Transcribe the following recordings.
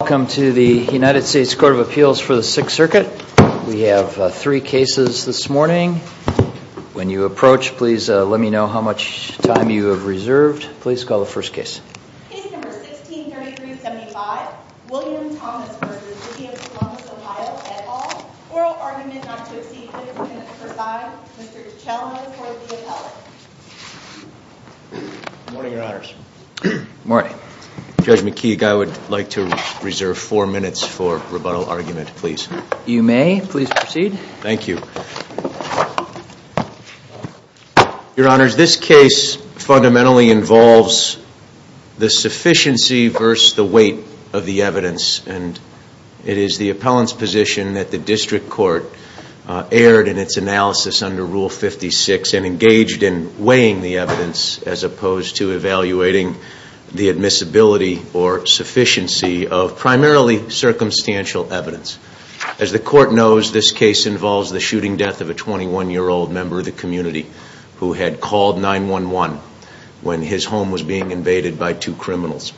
Welcome to the United States Court of Appeals for the Sixth Circuit. We have three cases this morning. When you approach, please let me know how much time you have reserved. Please call the first case. Case number 163375, William Thomas v. City of Columbus, Ohio, et al. Oral Argument not to Exceed 15 Minutes per File. Mr. Dichalmos for the appeal. Good morning, Your Honors. Good morning. Judge McKeague, I would like to reserve four minutes for rebuttal argument, please. You may. Please proceed. Thank you. Your Honors, this case fundamentally involves the sufficiency versus the weight of the evidence. And it is the appellant's position that the district court erred in its analysis under Rule 56 and engaged in weighing the evidence as opposed to evaluating the admissibility or sufficiency of primarily circumstantial evidence. As the court knows, this case involves the shooting death of a 21-year-old member of the community who had called 911 when his home was being invaded by two criminals.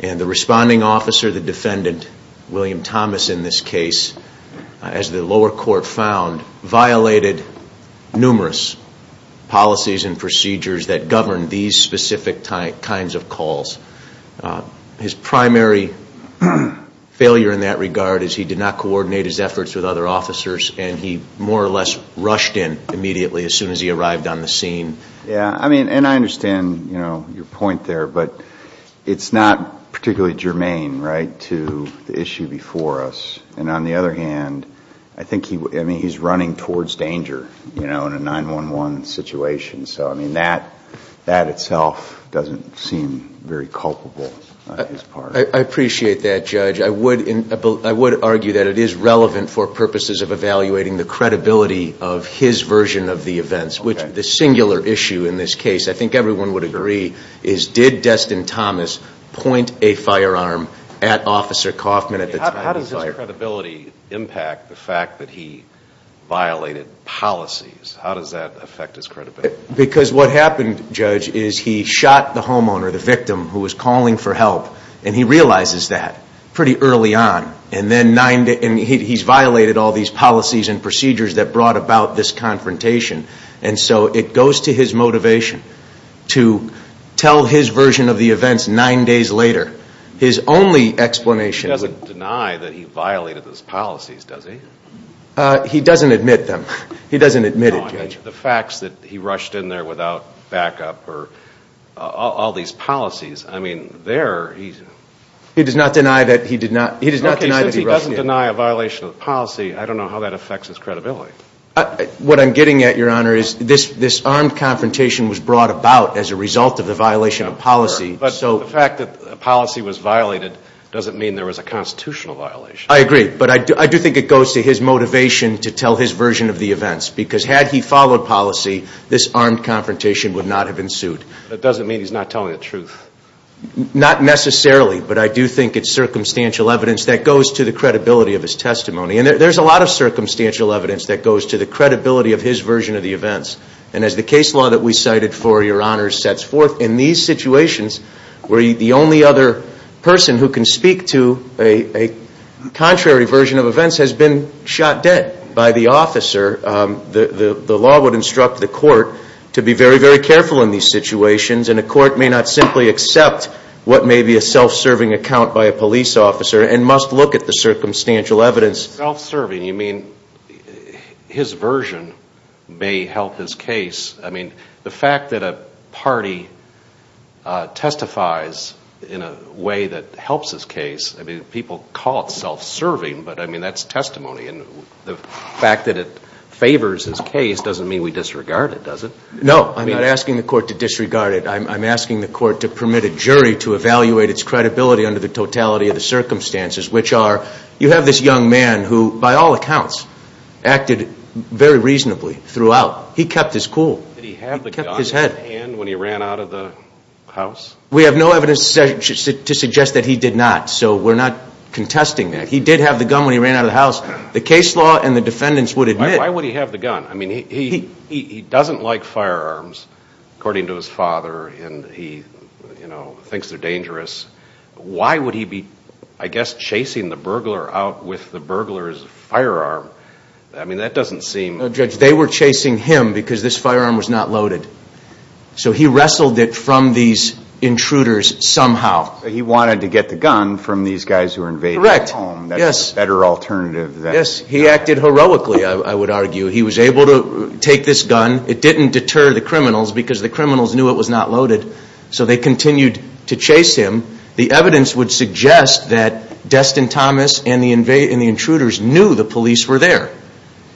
And the responding officer, the defendant, William Thomas, in this case, as the lower court found, violated numerous policies and procedures that govern these specific kinds of calls. His primary failure in that regard is he did not coordinate his efforts with other officers and he more or less rushed in immediately as soon as he arrived on the scene. Yeah, I mean, and I understand, you know, your point there, but it's not particularly germane, right, to the issue before us. And on the other hand, I think he, I mean, he's running towards danger, you know, in a 911 situation. So, I mean, that itself doesn't seem very culpable on his part. I appreciate that, Judge. I would argue that it is relevant for purposes of evaluating the credibility of his version of the events, which the singular issue in this case, I think everyone would agree, is did Destin Thomas point a firearm at Officer Kaufman at the time he fired? How does his credibility impact the fact that he violated policies? How does that affect his credibility? Because what happened, Judge, is he shot the homeowner, the victim, who was calling for help, and he realizes that pretty early on. And then nine days, and he's violated all these policies and procedures that brought about this confrontation. And so it goes to his motivation to tell his version of the events nine days later. His only explanation He doesn't deny that he violated those policies, does he? He doesn't admit them. He doesn't admit it, Judge. The facts that he rushed in there without backup or all these policies, I mean, there he's He does not deny that he did not, he does not deny that he rushed in. Okay, since he doesn't deny a violation of the policy, I don't know how that affects his credibility. What I'm getting at, Your Honor, is this armed confrontation was brought about as a result of the violation of policy, so The fact that the policy was violated doesn't mean there was a constitutional violation. I agree, but I do think it goes to his motivation to tell his version of the events, because had he followed policy, this armed confrontation would not have ensued. That doesn't mean he's not telling the truth. Not necessarily, but I do think it's circumstantial evidence that goes to the credibility of his testimony. And there's a lot of circumstantial evidence that goes to the credibility of his version of the events. And as the case law that we cited for, Your Honor, sets forth in these situations where the only other person who can speak to a contrary version of events has been shot dead by the officer, the law would instruct the court to be very, very careful in these situations. And a court may not simply accept what may be a self-serving account by a police officer and must look at the circumstantial evidence. And by self-serving, you mean his version may help his case. I mean, the fact that a party testifies in a way that helps his case, I mean, people call it self-serving, but I mean, that's testimony. And the fact that it favors his case doesn't mean we disregard it, does it? No, I'm not asking the court to disregard it. I'm asking the court to permit a jury to evaluate its credibility under the totality of the circumstances, which are you have this young man who, by all accounts, acted very reasonably throughout. He kept his cool. Did he have the gun in his hand when he ran out of the house? We have no evidence to suggest that he did not, so we're not contesting that. He did have the gun when he ran out of the house. The case law and the defendants would admit Why would he have the gun? I mean, he doesn't like firearms, according to his father, and he, you know, thinks they're dangerous. Why would he be, I guess, chasing the burglar out with the burglar's firearm? I mean, that doesn't seem No, Judge, they were chasing him because this firearm was not loaded. So he wrestled it from these intruders somehow. He wanted to get the gun from these guys who were invading his home. Correct, yes. That's a better alternative than Yes, he acted heroically, I would argue. He was able to take this gun. It didn't deter the criminals because the criminals knew it was not loaded, so they continued to chase him. The evidence would suggest that Destin Thomas and the intruders knew the police were there.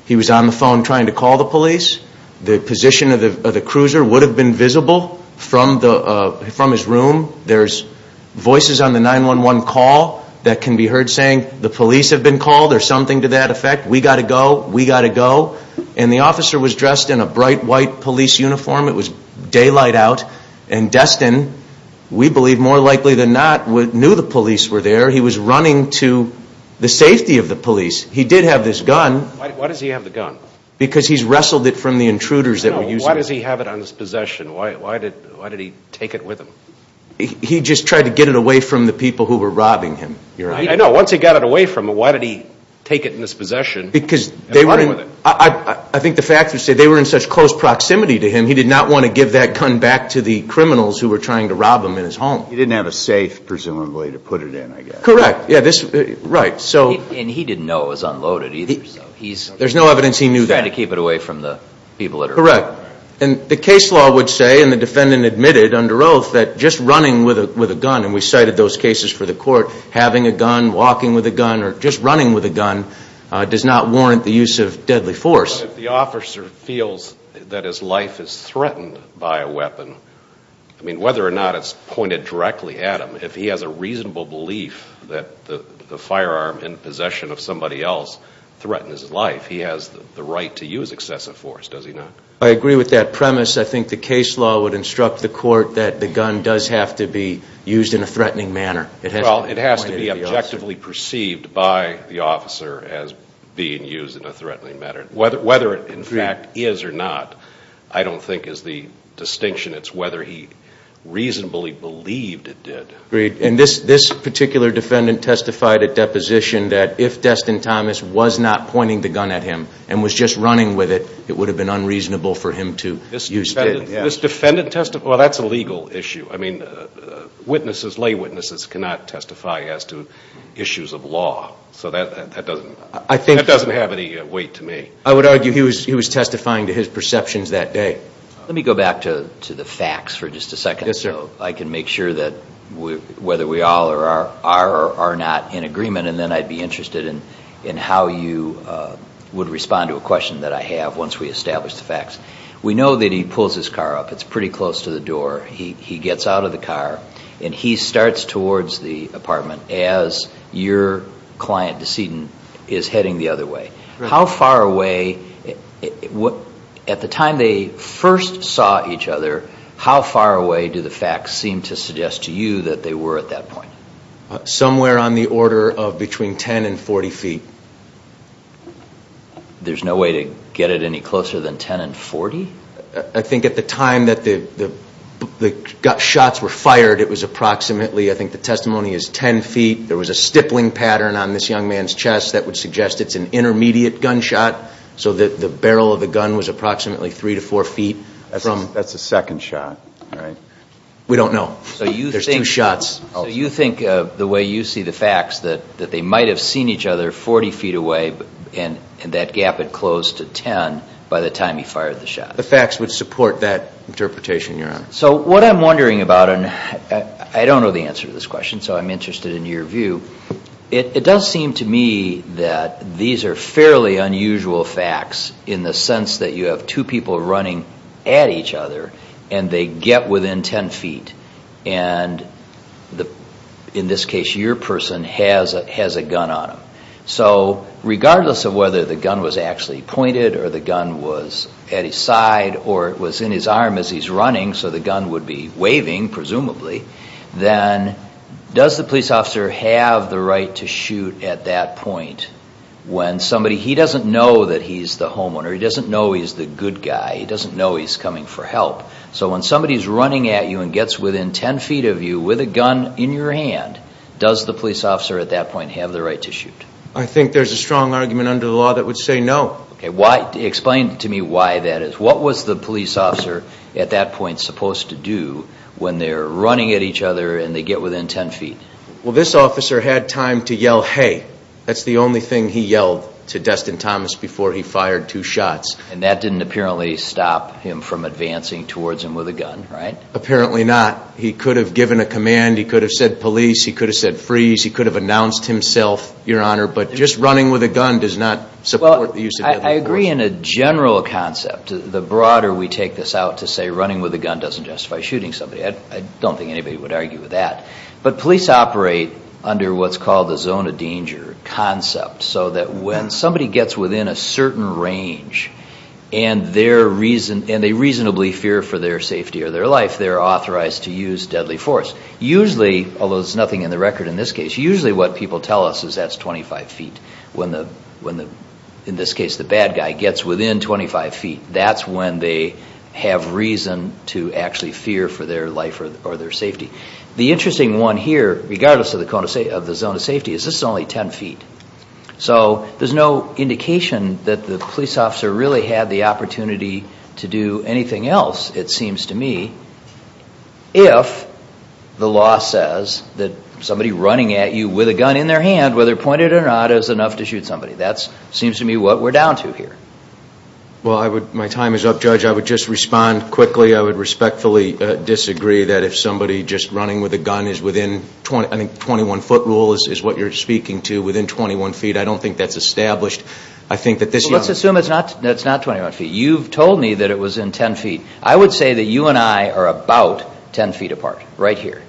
He was on the phone trying to call the police. The position of the cruiser would have been visible from his room. There's voices on the 911 call that can be heard saying, the police have been called or something to that effect. We gotta go. We gotta go. And the officer was dressed in a bright white police uniform. It was daylight out. And Destin, we believe more likely than not, knew the police were there. He was running to the safety of the police. He did have this gun. Why does he have the gun? Because he's wrestled it from the intruders that were using it. No, why does he have it on his possession? Why did he take it with him? He just tried to get it away from the people who were robbing him, Your Honor. I know. Once he got it away from him, why did he take it in his possession and run with it? I think the facts would say they were in such close proximity to him, he did not want to give that gun back to the criminals who were trying to rob him in his home. He didn't have a safe, presumably, to put it in, I guess. Correct. And he didn't know it was unloaded either. There's no evidence he knew that. He was trying to keep it away from the people that were robbing him. The case law would say, and the defendant admitted under oath, that just running with a gun, and we cited those cases for the court, having a gun, walking with a gun, or just not warrant the use of deadly force. If the officer feels that his life is threatened by a weapon, I mean, whether or not it's pointed directly at him, if he has a reasonable belief that the firearm in possession of somebody else threatens his life, he has the right to use excessive force, does he not? I agree with that premise. I think the case law would instruct the court that the gun does have to be used in a threatening manner. Well, it has to be objectively perceived by the officer as being used in a threatening manner. Whether it, in fact, is or not, I don't think is the distinction. It's whether he reasonably believed it did. Agreed. And this particular defendant testified at deposition that if Destin Thomas was not pointing the gun at him and was just running with it, it would have been unreasonable for him to use it. Well, that's a legal issue. I mean, witnesses, lay witnesses, cannot testify as to issues of law. So that doesn't have any weight to me. I would argue he was testifying to his perceptions that day. Let me go back to the facts for just a second. I can make sure that whether we all are or are not in agreement, and then I'd be interested in how you would respond to a question that I have once we establish the facts. We know that he pulls his car up. It's pretty close to the door. He gets out of the car and he starts towards the apartment as your client Destin is heading the other way. How far away, at the time they first saw each other, how far away do the facts seem to suggest to you that they were at that point? Somewhere on the order of between 10 and 40 feet. There's no way to get it any closer than 10 and 40? I think at the time that the shots were fired, it was approximately, I think the testimony is 10 feet. There was a stippling pattern on this young man's chest that would suggest it's an intermediate gunshot. So the barrel of the gun was approximately 3 to 4 feet. That's a second shot, right? We don't know. There's two shots. You think, the way you see the facts, that they might have seen each other 40 feet away and that gap had closed to 10 by the time he fired the shot? The facts would support that interpretation, Your Honor. So what I'm wondering about, and I don't know the answer to this question, so I'm interested in your view. It does seem to me that these are fairly unusual facts in the sense that you have two people running at each other and they get within 10 feet. In this case, your person has a gun on him. So regardless of whether the gun was actually pointed or the gun was at his side or it was in his arm as he's running, so the gun would be waving presumably, then does the police officer have the right to shoot at that point when somebody, he doesn't know that he's the homeowner, he doesn't know he's the good guy, he doesn't know he's coming for help. So when somebody's running at you and gets within 10 feet of you with a gun in your hand, does the police officer at that point have the right to shoot? I think there's a strong argument under the law that would say no. Explain to me why that is. What was the police officer at that point supposed to do when they're running at each other and they get within 10 feet? Well this officer had time to yell hey. That's the only thing he yelled to Destin Thomas before he fired two shots. And that didn't apparently stop him from advancing towards him with a gun, right? Apparently not. He could have given a command, he could have said police, he could have said freeze, he could have announced himself, your honor, but just running with a gun does not support the use of a gun. Well, I agree in a general concept. The broader we take this out to say running with a gun doesn't justify shooting somebody. I don't think anybody would argue with that. But police operate under what's called the zone of danger concept. So that when somebody gets within a certain range and they reasonably fear for their safety or their life, they're authorized to use deadly force. Usually, although there's nothing in the record in this case, usually what people tell us is that's 25 feet. When, in this case, the bad guy gets within 25 feet, that's when they have reason to actually fear for their life or their safety. The interesting one here, regardless of the zone of safety, is this is only 10 feet. So there's no indication that the police officer really had the opportunity to do anything else, it seems to me, if the law says that somebody running at you with a gun in their hand, whether pointed or not, is enough to shoot somebody. That seems to me what we're down to here. Well, my time is up, Judge. I would just respond quickly. I would respectfully disagree that if somebody just running with a gun is within, I think the 21-foot rule is what you're speaking to, within 21 feet. I don't think that's established. I think that this young... Well, let's assume it's not 21 feet. You've told me that it was in 10 feet. I would say that you and I are about 10 feet apart, right here.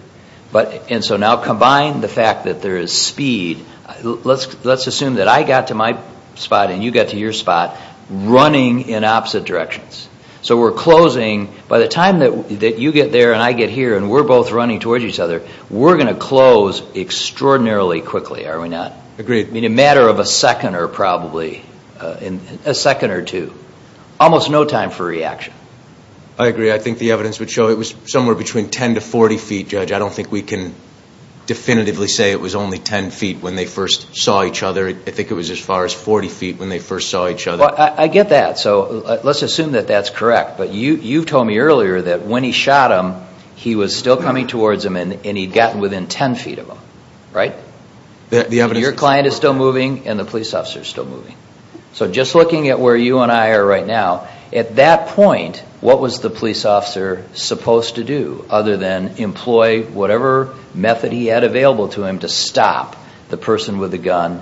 And so now combine the fact that there is speed. Let's assume that I got to my spot and you got to your spot running in opposite directions. So we're closing, by the time that you get there and I get here and we're both running towards each other, we're going to close extraordinarily quickly, are we not? Agreed. In a matter of a second or probably, a second or two. Almost no time for reaction. I agree. I think the evidence would show it was somewhere between 10 to 40 feet, Judge. I don't think we can definitively say it was only 10 feet when they first saw each other. I think it was as far as 40 feet when they first saw each other. I get that. So let's assume that that's correct. But you've told me earlier that when he shot him, he was still coming towards him and he'd gotten within 10 feet of him, right? The evidence... Your client is still moving and the police officer is still moving. So just looking at where you and I are right now, at that point, what was the police officer supposed to do other than employ whatever method he had available to him to stop the person with the gun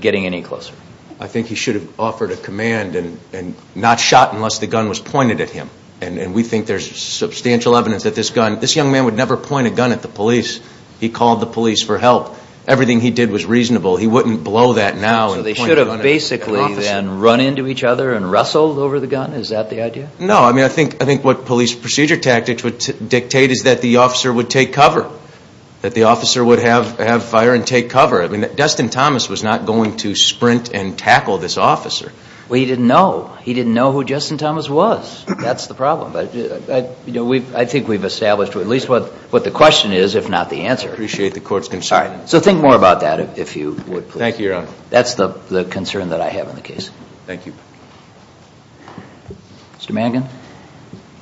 getting any closer? I think he should have offered a command and not shot unless the gun was pointed at him. And we think there's substantial evidence that this young man would never point a gun at the police. He called the police for help. Everything he did was reasonable. He wouldn't blow that now. So they should have basically then run into each other and wrestled over the gun? Is that the idea? No. I mean, I think what police procedure tactics would dictate is that the officer would take cover. That the officer would have fire and take cover. I mean, Dustin Thomas was not going to sprint and tackle this officer. Well, he didn't know. He didn't know who Dustin Thomas was. That's the problem. I think we've established at least what the question is, if not the answer. I appreciate the court's concern. All right. So think more about that if you would, please. Thank you, Your Honor. That's the concern that I have in the case. Thank you. Mr. Mangan?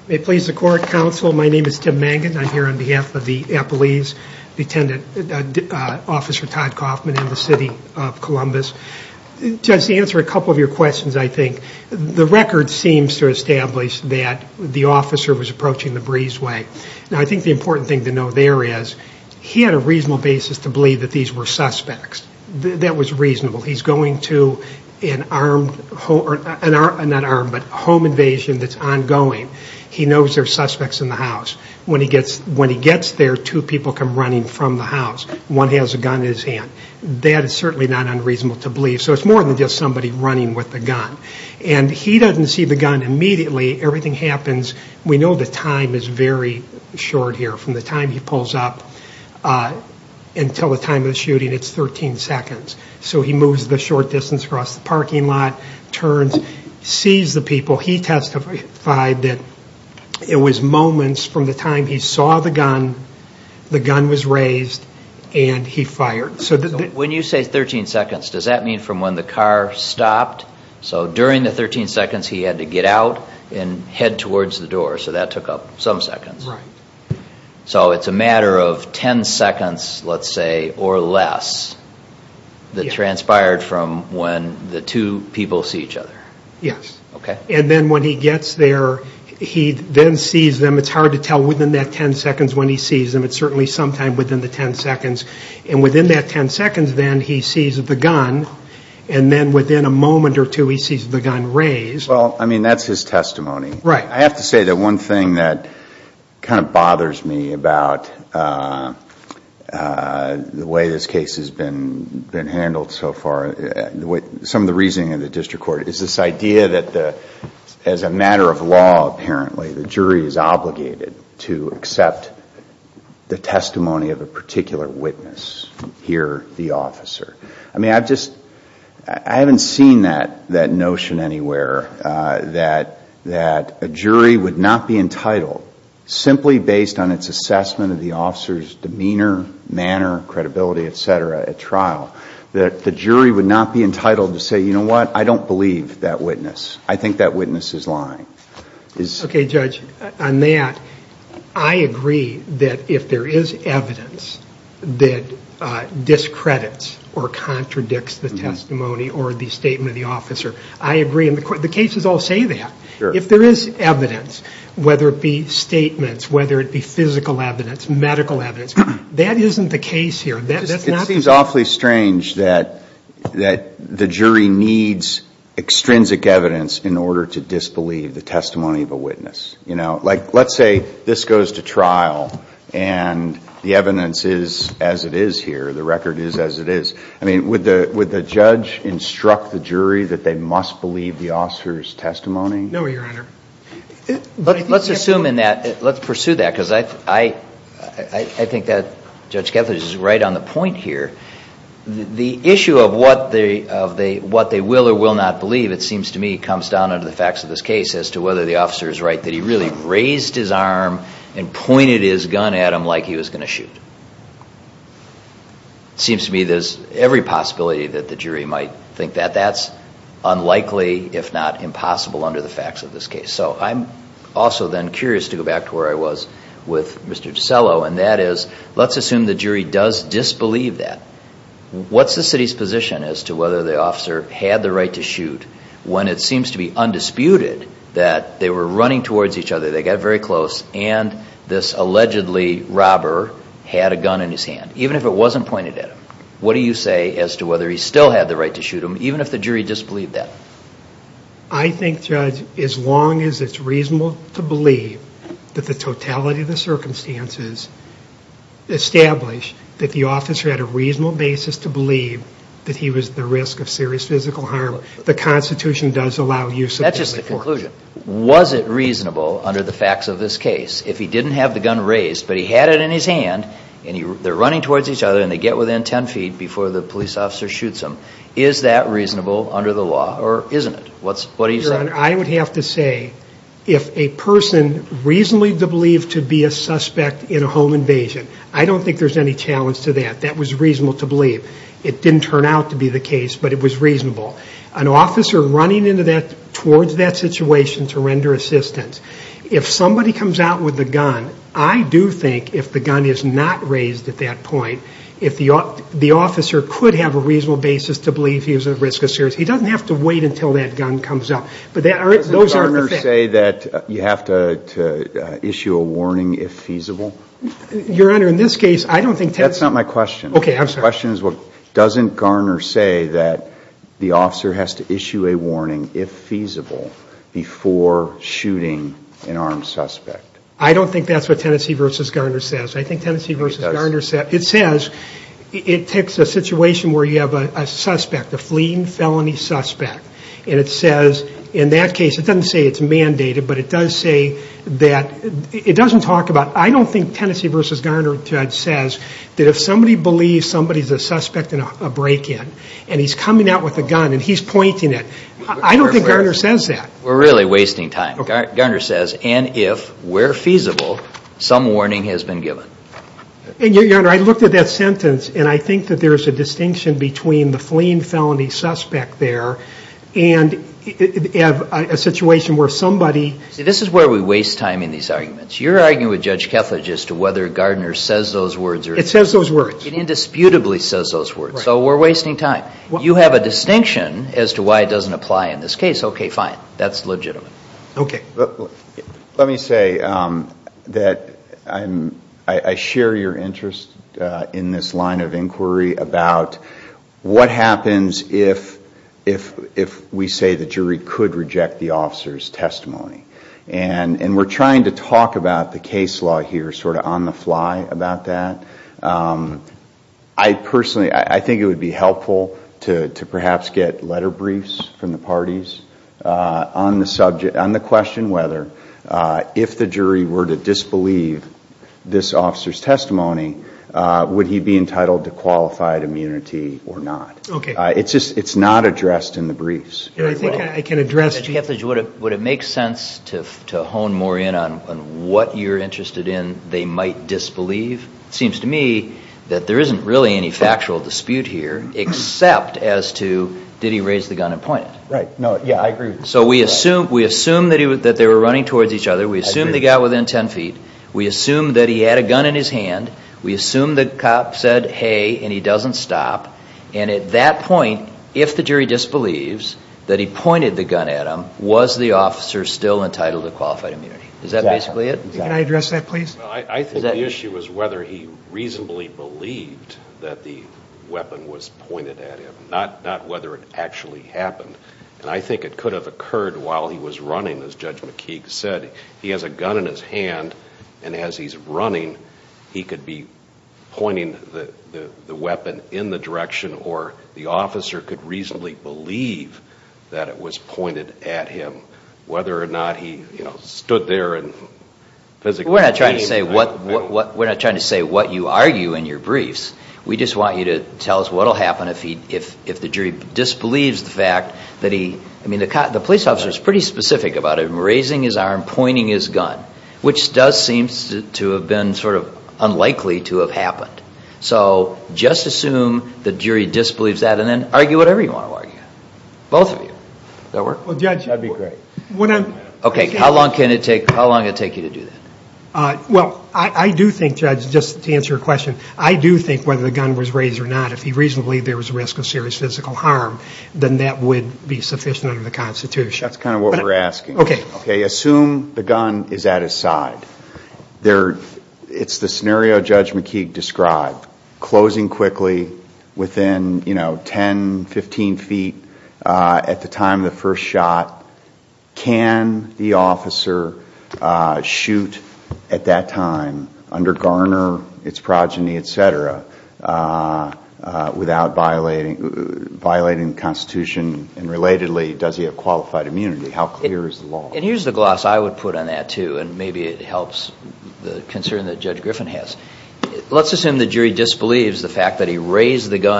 May it please the court, counsel, my name is Tim Mangan. I'm here on behalf of the Epelise Police Department. I'm here to speak on the case of Officer Todd Kaufman in the city of Columbus. To answer a couple of your questions, I think, the record seems to establish that the officer was approaching the breezeway. Now, I think the important thing to know there is he had a reasonable basis to believe that these were suspects. That was reasonable. He's going to an armed, not armed, but home invasion that's ongoing. He knows there are suspects in the house. When he gets there, two people come running from the house. One has a gun in his hand. That is certainly not unreasonable to believe. So it's more than just somebody running with a gun. And he doesn't see the gun immediately. Everything happens, we know the time is very short here. From the time he pulls up until the time of the shooting, it's 13 seconds. So he moves the short distance across the parking lot, turns, sees the people. He testified that it was moments from the time he saw the gun, the gun was raised, and he fired. When you say 13 seconds, does that mean from when the car stopped? So during the 13 seconds he had to get out and head towards the door. So that took up some seconds. So it's a matter of 10 seconds, let's say, or less, that transpired from when the two people see each other. Yes. And then when he gets there, he then sees them. It's hard to tell within that 10 seconds when he sees them. It's certainly sometime within the 10 seconds. And within that 10 seconds then, he sees the gun. And then within a moment or two, he sees the gun raised. Well, I mean, that's his testimony. I have to say that one thing that kind of bothers me about the way this case has been handled so far, some of the reasoning in the district court, is this idea that as a matter of law, apparently, the jury is obligated to accept the testimony of a particular witness, here the officer. I mean, I haven't seen that notion anywhere, that a jury would not be entitled, simply based on its assessment of the officer's demeanor, manner, credibility, et cetera, at trial, that the jury would not be entitled to say, you know what, I don't believe that witness. I think that witness is lying. Okay, Judge, on that, I agree that if there is evidence that discredits or contradicts the testimony or the statement of the officer, I agree. The cases all say that. If there is evidence, whether it be statements, whether it be physical evidence, medical evidence, that isn't the case here. It seems awfully strange that the jury needs extrinsic evidence in order to disbelieve the testimony of a witness. Like, let's say this goes to trial and the evidence is as it is here, the record is as it is. I mean, would the judge instruct the jury that they must believe the officer's testimony? No, Your Honor. But let's assume in that, let's pursue that, because I think that Judge Kethledge is right on the point here. The issue of what they will or will not believe, it seems to me comes down to the facts of this case as to whether the officer is right that he really raised his arm and pointed his gun at him like he was going to shoot. It seems to me there's every possibility that the jury might think that. That's unlikely, if not impossible under the facts of this case. So I'm also then curious to go back to where I was with Mr. DiCello, and that is, let's assume the jury does disbelieve that. What's the city's position as to whether the officer had the right to shoot when it seems to be undisputed that they were running towards each other, they got very close, and this allegedly robber had a gun in his hand, even if it wasn't pointed at him? What do you say as to whether he still had the right to shoot him, even if the jury disbelieved that? I think, Judge, as long as it's reasonable to believe that the totality of the circumstances establish that the officer had a reasonable basis to believe that he was at the risk of serious physical harm, the Constitution does allow use of deadly force. That's just a conclusion. Was it reasonable under the facts of this case, if he didn't have the gun raised, but he had it in his hand, and they're running towards each other, and they get within ten feet before the police officer shoots him, is that reasonable under the law, or isn't it? What do you say? I would have to say, if a person reasonably believed to be a suspect in a home invasion, I don't think there's any challenge to that. That was reasonable to believe. It didn't turn out to be the case, but it was reasonable. An officer running towards that situation to render assistance, if somebody comes out with a gun, I do think if the gun is not raised at that point, if the officer could have a reasonable basis to believe he was at risk of serious, he doesn't have to wait until that gun comes up. Doesn't Garner say that you have to issue a warning if feasible? Your Honor, in this case, I don't think... That's not my question. Okay, I'm sorry. My question is, doesn't Garner say that the officer has to issue a warning, if feasible, before shooting an armed suspect? I don't think that's what Tennessee v. Garner says. I think Tennessee v. Garner says... It does. ...the fleeing felony suspect, and it says, in that case, it doesn't say it's mandated, but it does say that, it doesn't talk about... I don't think Tennessee v. Garner says that if somebody believes somebody's a suspect in a break-in, and he's coming out with a gun, and he's pointing it, I don't think Garner says that. We're really wasting time. Garner says, and if, where feasible, some warning has been given. Your Honor, I looked at that sentence, and I think that there's a distinction between the fleeing felony suspect there, and a situation where somebody... This is where we waste time in these arguments. You're arguing with Judge Kethledge as to whether Garner says those words, or... It says those words. It indisputably says those words, so we're wasting time. You have a distinction as to why it doesn't apply in this case. Okay, fine. That's legitimate. Okay. Let me say that I share your interest in this line of inquiry about what happens if we say the jury could reject the officer's testimony. We're trying to talk about the case law here, sort of on the fly, about that. I personally, I think it would be helpful to perhaps get letter briefs from the parties on the question whether if the jury were to disbelieve this officer's testimony, would he be entitled to qualified immunity or not? Okay. It's just, it's not addressed in the briefs. I think I can address... Judge Kethledge, would it make sense to hone more in on what you're interested in they might disbelieve? It seems to me that there isn't really any factual dispute here, except as to did he raise the gun and point it? Right. No. Yeah, I agree. So we assume that they were running towards each other. We assume they got within 10 feet. We assume that he had a gun in his hand. We assume the cop said, hey, and he doesn't stop. And at that point, if the jury disbelieves that he pointed the gun at him, was the officer still entitled to qualified immunity? Is that basically it? Exactly. Can I address that, please? Well, I think the issue was whether he reasonably believed that the weapon was pointed at him, not whether it actually happened. And I think it could have occurred while he was running, as Judge McKeague said. He has a gun in his hand, and as he's running, he could be pointing the weapon in the direction, or the officer could reasonably believe that it was pointed at him, whether or not he stood there and physically came. We're not trying to say what you argue in your briefs. We just want you to tell us what will happen if the jury disbelieves the fact that he, I mean, the police officer is pretty specific about it. Raising his arm, pointing his gun, which does seem to have been sort of unlikely to have happened. So just assume the jury disbelieves that, and then argue whatever you want to argue. Both of you. Does that work? Well, Judge... That'd be great. Okay, how long can it take, how long can it take you to do that? Well, I do think, Judge, just to answer your question, I do think whether the gun was raised or not, if he reasonably believed there was a risk of serious physical harm, then that would be sufficient under the Constitution. That's kind of what we're asking. Okay. Okay, assume the gun is at his side. It's the scenario Judge McKeague described, closing quickly within 10, 15 feet at the time of the first shot. Can the officer shoot at that time, under garner, its progeny, et cetera, without violating the Constitution? And relatedly, does he have qualified immunity? How clear is the law? And here's the gloss I would put on that, too, and maybe it helps the concern that Judge gun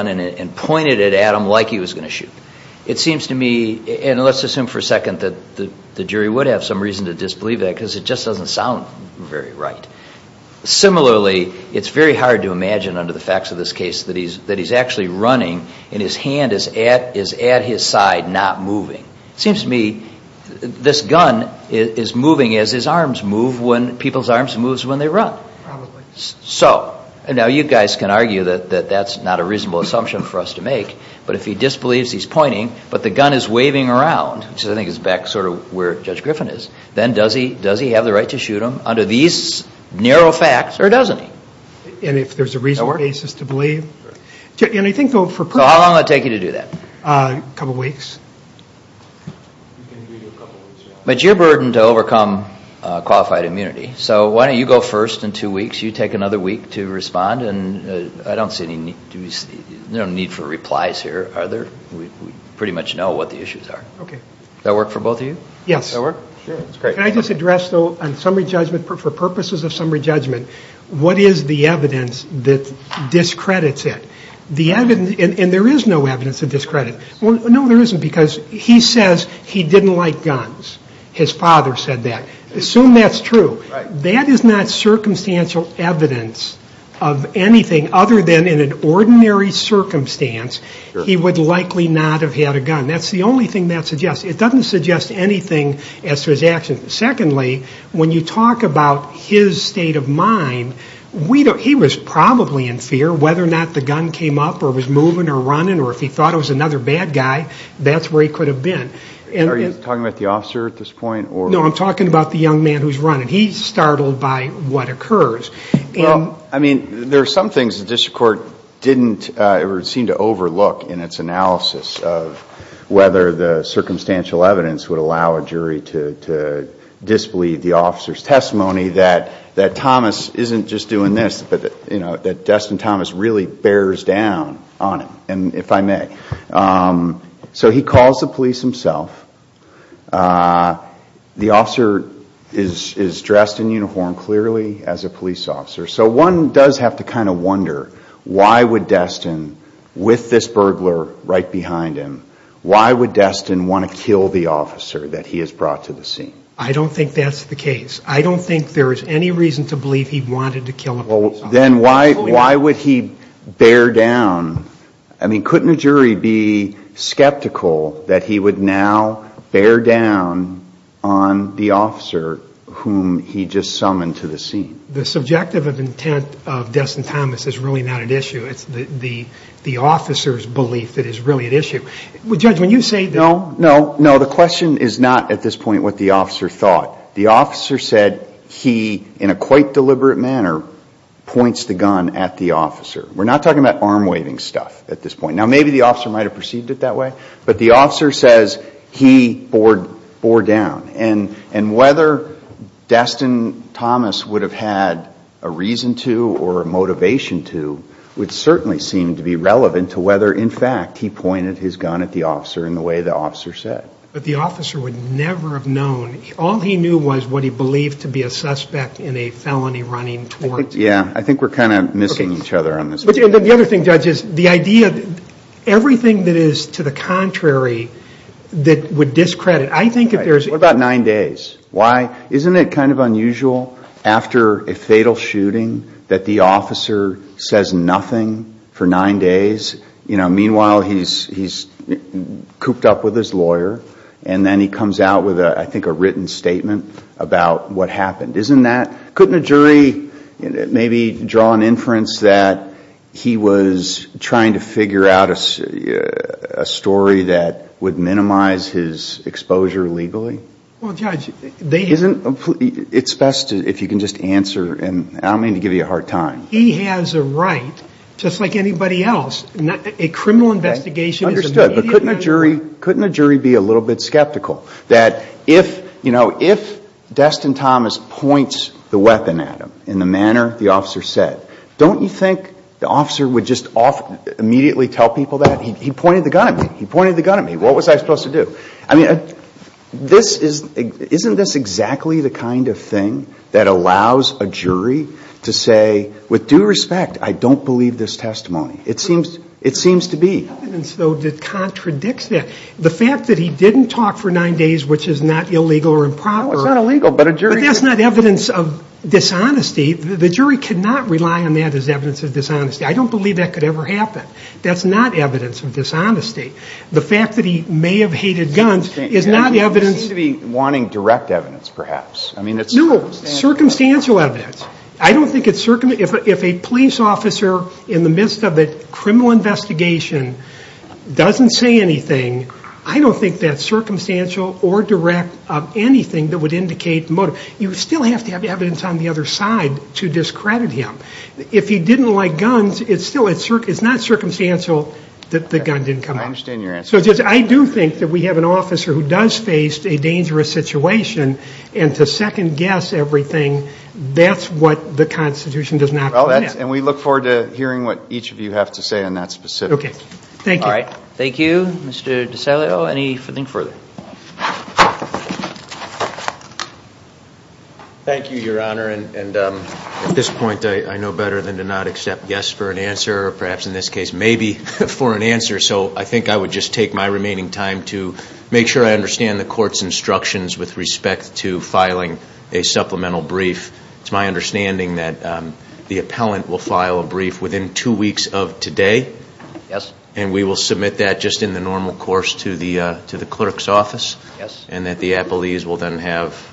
and pointed it at him like he was going to shoot. It seems to me, and let's assume for a second that the jury would have some reason to disbelieve that because it just doesn't sound very right. Similarly, it's very hard to imagine under the facts of this case that he's actually running and his hand is at his side, not moving. It seems to me this gun is moving as his arms move, when people's arms move when they run. Probably. So, and now you guys can argue that that's not a reasonable assumption for us to make, but if he disbelieves he's pointing, but the gun is waving around, which I think is back sort of where Judge Griffin is, then does he have the right to shoot him under these narrow facts, or doesn't he? And if there's a reasonable basis to believe? Sure. And I think for- So how long will it take you to do that? A couple weeks. You can do it in a couple weeks. But it's your burden to overcome qualified immunity, so why don't you go first in two weeks, take another week to respond, and I don't see any need for replies here. We pretty much know what the issues are. Okay. Does that work for both of you? Yes. Does that work? Sure. That's great. Can I just address, though, on summary judgment, for purposes of summary judgment, what is the evidence that discredits it? And there is no evidence to discredit. No, there isn't, because he says he didn't like guns. His father said that. Assume that's true. That is not circumstantial evidence of anything other than in an ordinary circumstance, he would likely not have had a gun. That's the only thing that suggests. It doesn't suggest anything as to his actions. Secondly, when you talk about his state of mind, he was probably in fear whether or not the gun came up or was moving or running, or if he thought it was another bad guy, that's where he could have been. Are you talking about the officer at this point, or- Well, I mean, there are some things the district court didn't or seemed to overlook in its analysis of whether the circumstantial evidence would allow a jury to disbelieve the officer's testimony that Thomas isn't just doing this, but that Destin Thomas really bears down on him, if I may. So he calls the police himself. The officer is dressed in uniform clearly as a police officer. So one does have to kind of wonder, why would Destin, with this burglar right behind him, why would Destin want to kill the officer that he has brought to the scene? I don't think that's the case. I don't think there is any reason to believe he wanted to kill him. Well, then why would he bear down? I mean, couldn't a jury be skeptical that he would now bear down on the officer whom he just summoned to the scene? The subjective intent of Destin Thomas is really not at issue. It's the officer's belief that is really at issue. Judge, when you say- No, no, no. The question is not at this point what the officer thought. The officer said he, in a quite deliberate manner, points the gun at the officer. We're not talking about arm-waving stuff at this point. Now, maybe the officer might have perceived it that way, but the officer says he bore down. And whether Destin Thomas would have had a reason to or a motivation to would certainly seem to be relevant to whether, in fact, he pointed his gun at the officer in the way the officer said. But the officer would never have known. All he knew was what he believed to be a suspect in a felony running towards- Yeah. I think we're kind of missing each other on this. The other thing, Judge, is the idea of everything that is to the contrary that would discredit. I think if there's- What about nine days? Why? Isn't it kind of unusual after a fatal shooting that the officer says nothing for nine days? Meanwhile, he's cooped up with his lawyer, and then he comes out with, I think, a written statement about what happened. Isn't that- Couldn't a jury draw an inference that he was trying to figure out a story that would minimize his exposure legally? Well, Judge, they have- It's best if you can just answer, and I don't mean to give you a hard time. He has a right, just like anybody else, a criminal investigation is a- Understood. But couldn't a jury be a little bit skeptical that if Destin Thomas points the weapon at him in the manner the officer said, don't you think the officer would just immediately tell people that? He pointed the gun at me. He pointed the gun at me. What was I supposed to do? I mean, isn't this exactly the kind of thing that allows a jury to say, with due respect, I don't believe this testimony? It seems to be. Evidence, though, that contradicts that. The fact that he didn't talk for nine days, which is not illegal or improper- It's not illegal, but a jury- But that's not evidence of dishonesty. The jury cannot rely on that as evidence of dishonesty. I don't believe that could ever happen. That's not evidence of dishonesty. The fact that he may have hated guns is not evidence- It seems to be wanting direct evidence, perhaps. I mean, it's circumstantial. No, circumstantial evidence. I don't think it's circumstantial. If a police officer, in the midst of a criminal investigation, doesn't say anything, I don't think that's evidence on the other side to discredit him. If he didn't like guns, it's not circumstantial that the gun didn't come out. I understand your answer. I do think that we have an officer who does face a dangerous situation, and to second guess everything, that's what the Constitution does not permit. We look forward to hearing what each of you have to say on that specific. Thank you. All right. Thank you. Mr. DiCelio, anything further? Thank you, Your Honor. At this point, I know better than to not accept yes for an answer, or perhaps in this case, maybe for an answer. So I think I would just take my remaining time to make sure I understand the court's instructions with respect to filing a supplemental brief. It's my understanding that the appellant will file a brief within two weeks of today, and we will submit that just in the normal course to the clerk's office, and that the appellees will then have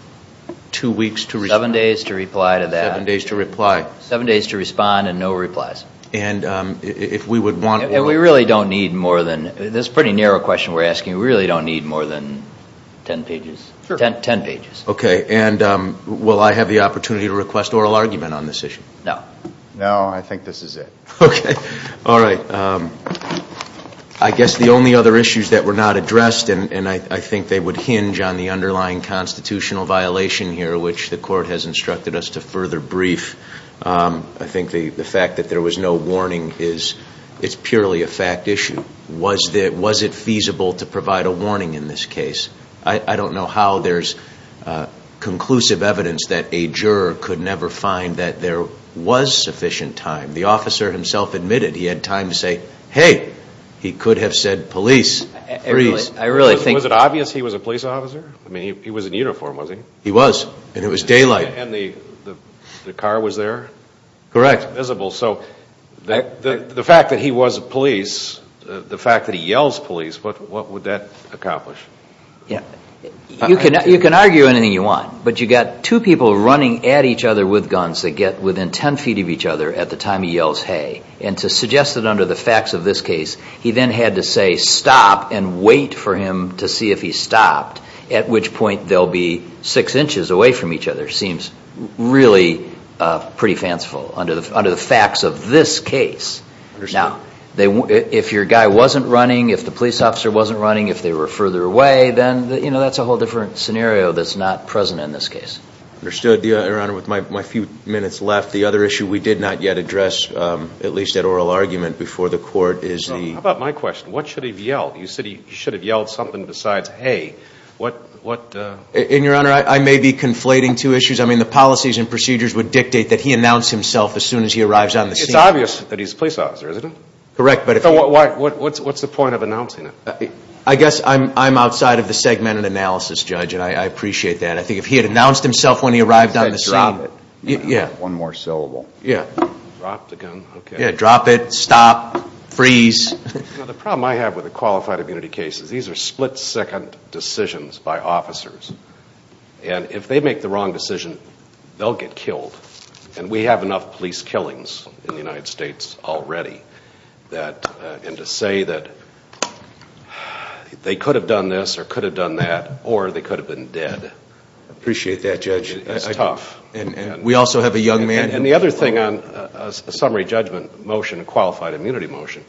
two weeks to respond. Seven days to reply to that. Seven days to reply. Seven days to respond, and no replies. If we would want oral – And we really don't need more than – this is a pretty narrow question we're asking. We really don't need more than ten pages. Sure. Ten pages. Okay. And will I have the opportunity to request oral argument on this issue? No. No. I think this is it. Okay. All right. I guess the only other issues that were not addressed, and I think they would hinge on the underlying constitutional violation here, which the court has instructed us to further brief. I think the fact that there was no warning is – it's purely a fact issue. Was it feasible to provide a warning in this case? I don't know how there's conclusive evidence that a juror could never find that there was sufficient time. The officer himself admitted he had time to say, hey, he could have said police, freeze. I really think – Was it obvious he was a police officer? I mean, he was in uniform, wasn't he? He was. And it was daylight. And the car was there? Correct. It was visible. So the fact that he was a police, the fact that he yells police, what would that accomplish? You can argue anything you want, but you've got two people running at each other with to suggest that under the facts of this case, he then had to say, stop, and wait for him to see if he stopped, at which point they'll be six inches away from each other. Seems really pretty fanciful under the facts of this case. Understood. Now, if your guy wasn't running, if the police officer wasn't running, if they were further away, then, you know, that's a whole different scenario that's not present in this case. Understood, Your Honor. With my few minutes left, the other issue we did not yet address at least at oral argument before the court is the... How about my question? What should he have yelled? You said he should have yelled something besides, hey, what... And Your Honor, I may be conflating two issues. I mean, the policies and procedures would dictate that he announce himself as soon as he arrives on the scene. It's obvious that he's a police officer, isn't it? Correct, but if he... So what's the point of announcing it? I guess I'm outside of the segmented analysis, Judge, and I appreciate that. I think if he had announced himself when he arrived on the scene... Then drop it. Yeah. One more syllable. Yeah. Drop the gun, okay. Yeah, drop it, stop, freeze. You know, the problem I have with a qualified immunity case is these are split-second decisions by officers, and if they make the wrong decision, they'll get killed, and we have enough police killings in the United States already that, and to say that they could have done this or could have done that or they could have been dead... Appreciate that, Judge. It's tough. And we also have a young man... And the other thing on a summary judgment motion, a qualified immunity motion,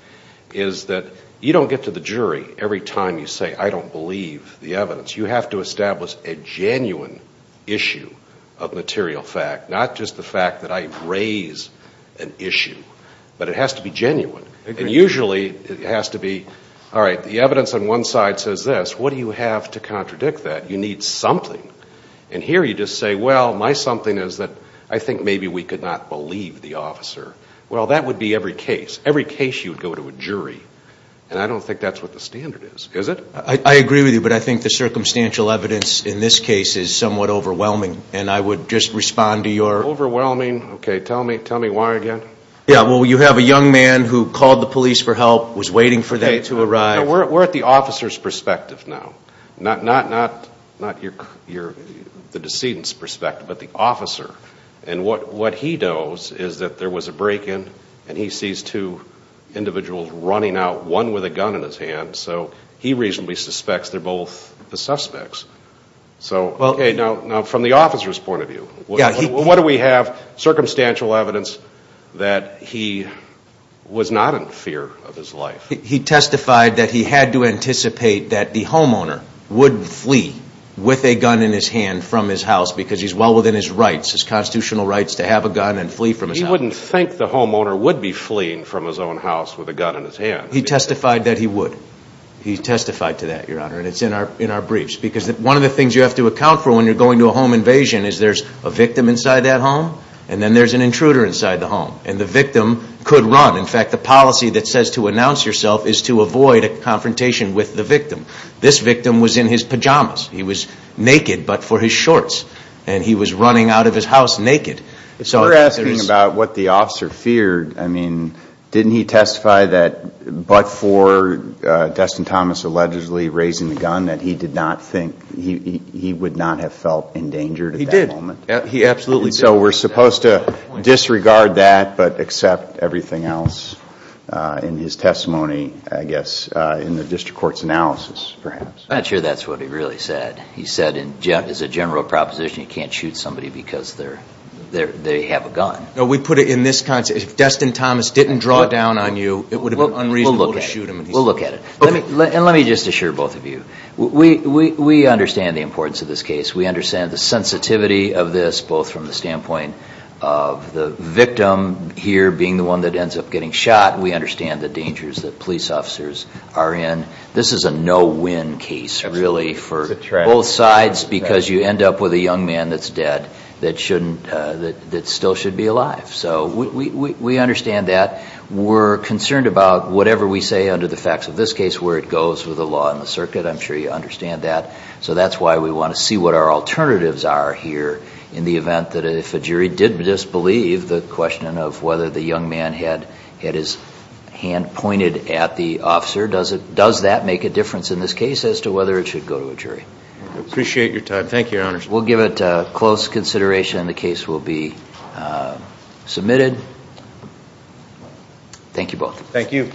is that you don't get to the jury every time you say, I don't believe the evidence. You have to establish a genuine issue of material fact, not just the fact that I raise an issue, but it has to be genuine. Agreed. And usually it has to be, all right, the evidence on one side says this, what do you have to contradict that? You need something. And here you just say, well, my something is that I think maybe we could not believe the officer. Well, that would be every case. Every case you would go to a jury, and I don't think that's what the standard is, is it? I agree with you, but I think the circumstantial evidence in this case is somewhat overwhelming, and I would just respond to your... Overwhelming? Okay, tell me why again. Yeah, well, you have a young man who called the police for help, was waiting for them to arrive... No, we're at the officer's perspective now, not the decedent's perspective, but the officer. And what he knows is that there was a break-in, and he sees two individuals running out, one with a gun in his hand, so he reasonably suspects they're both the suspects. So, okay, now from the officer's point of view, what do we have? Circumstantial evidence that he was not in fear of his life. He testified that he had to anticipate that the homeowner would flee with a gun in his hand. He testified that he would. He testified to that, Your Honor, and it's in our briefs, because one of the things you have to account for when you're going to a home invasion is there's a victim inside that home, and then there's an intruder inside the home, and the victim could run. In fact, the policy that says to announce yourself is to avoid a confrontation with the victim. This victim was in his pajamas. He was naked, but for his shorts, and he was running out of his house naked. So we're asking about what the officer feared. I mean, didn't he testify that but for Destin Thomas allegedly raising the gun, that he did not think, he would not have felt endangered at that moment? He did. He absolutely did. So we're supposed to disregard that, but accept everything else in his testimony, I guess, in the district court's analysis, perhaps. I'm not sure that's what he really said. He said, as a general proposition, you can't shoot somebody because they have a gun. No, we put it in this context. If Destin Thomas didn't draw down on you, it would have been unreasonable to shoot him. We'll look at it. And let me just assure both of you, we understand the importance of this case. We understand the sensitivity of this, both from the standpoint of the victim here being the one that ends up getting shot. We understand the dangers that police officers are in. This is a no-win case, really, for both sides, because you end up with a young man that's dead that still should be alive. So we understand that. We're concerned about whatever we say under the facts of this case, where it goes with the law and the circuit. I'm sure you understand that. So that's why we want to see what our alternatives are here in the event that if a jury did disbelieve the question of whether the young man had his hand pointed at the officer, does that make a difference in this case as to whether it should go to a jury? Appreciate your time. Thank you, Your Honors. We'll give it close consideration and the case will be submitted. Thank you both. Thank you.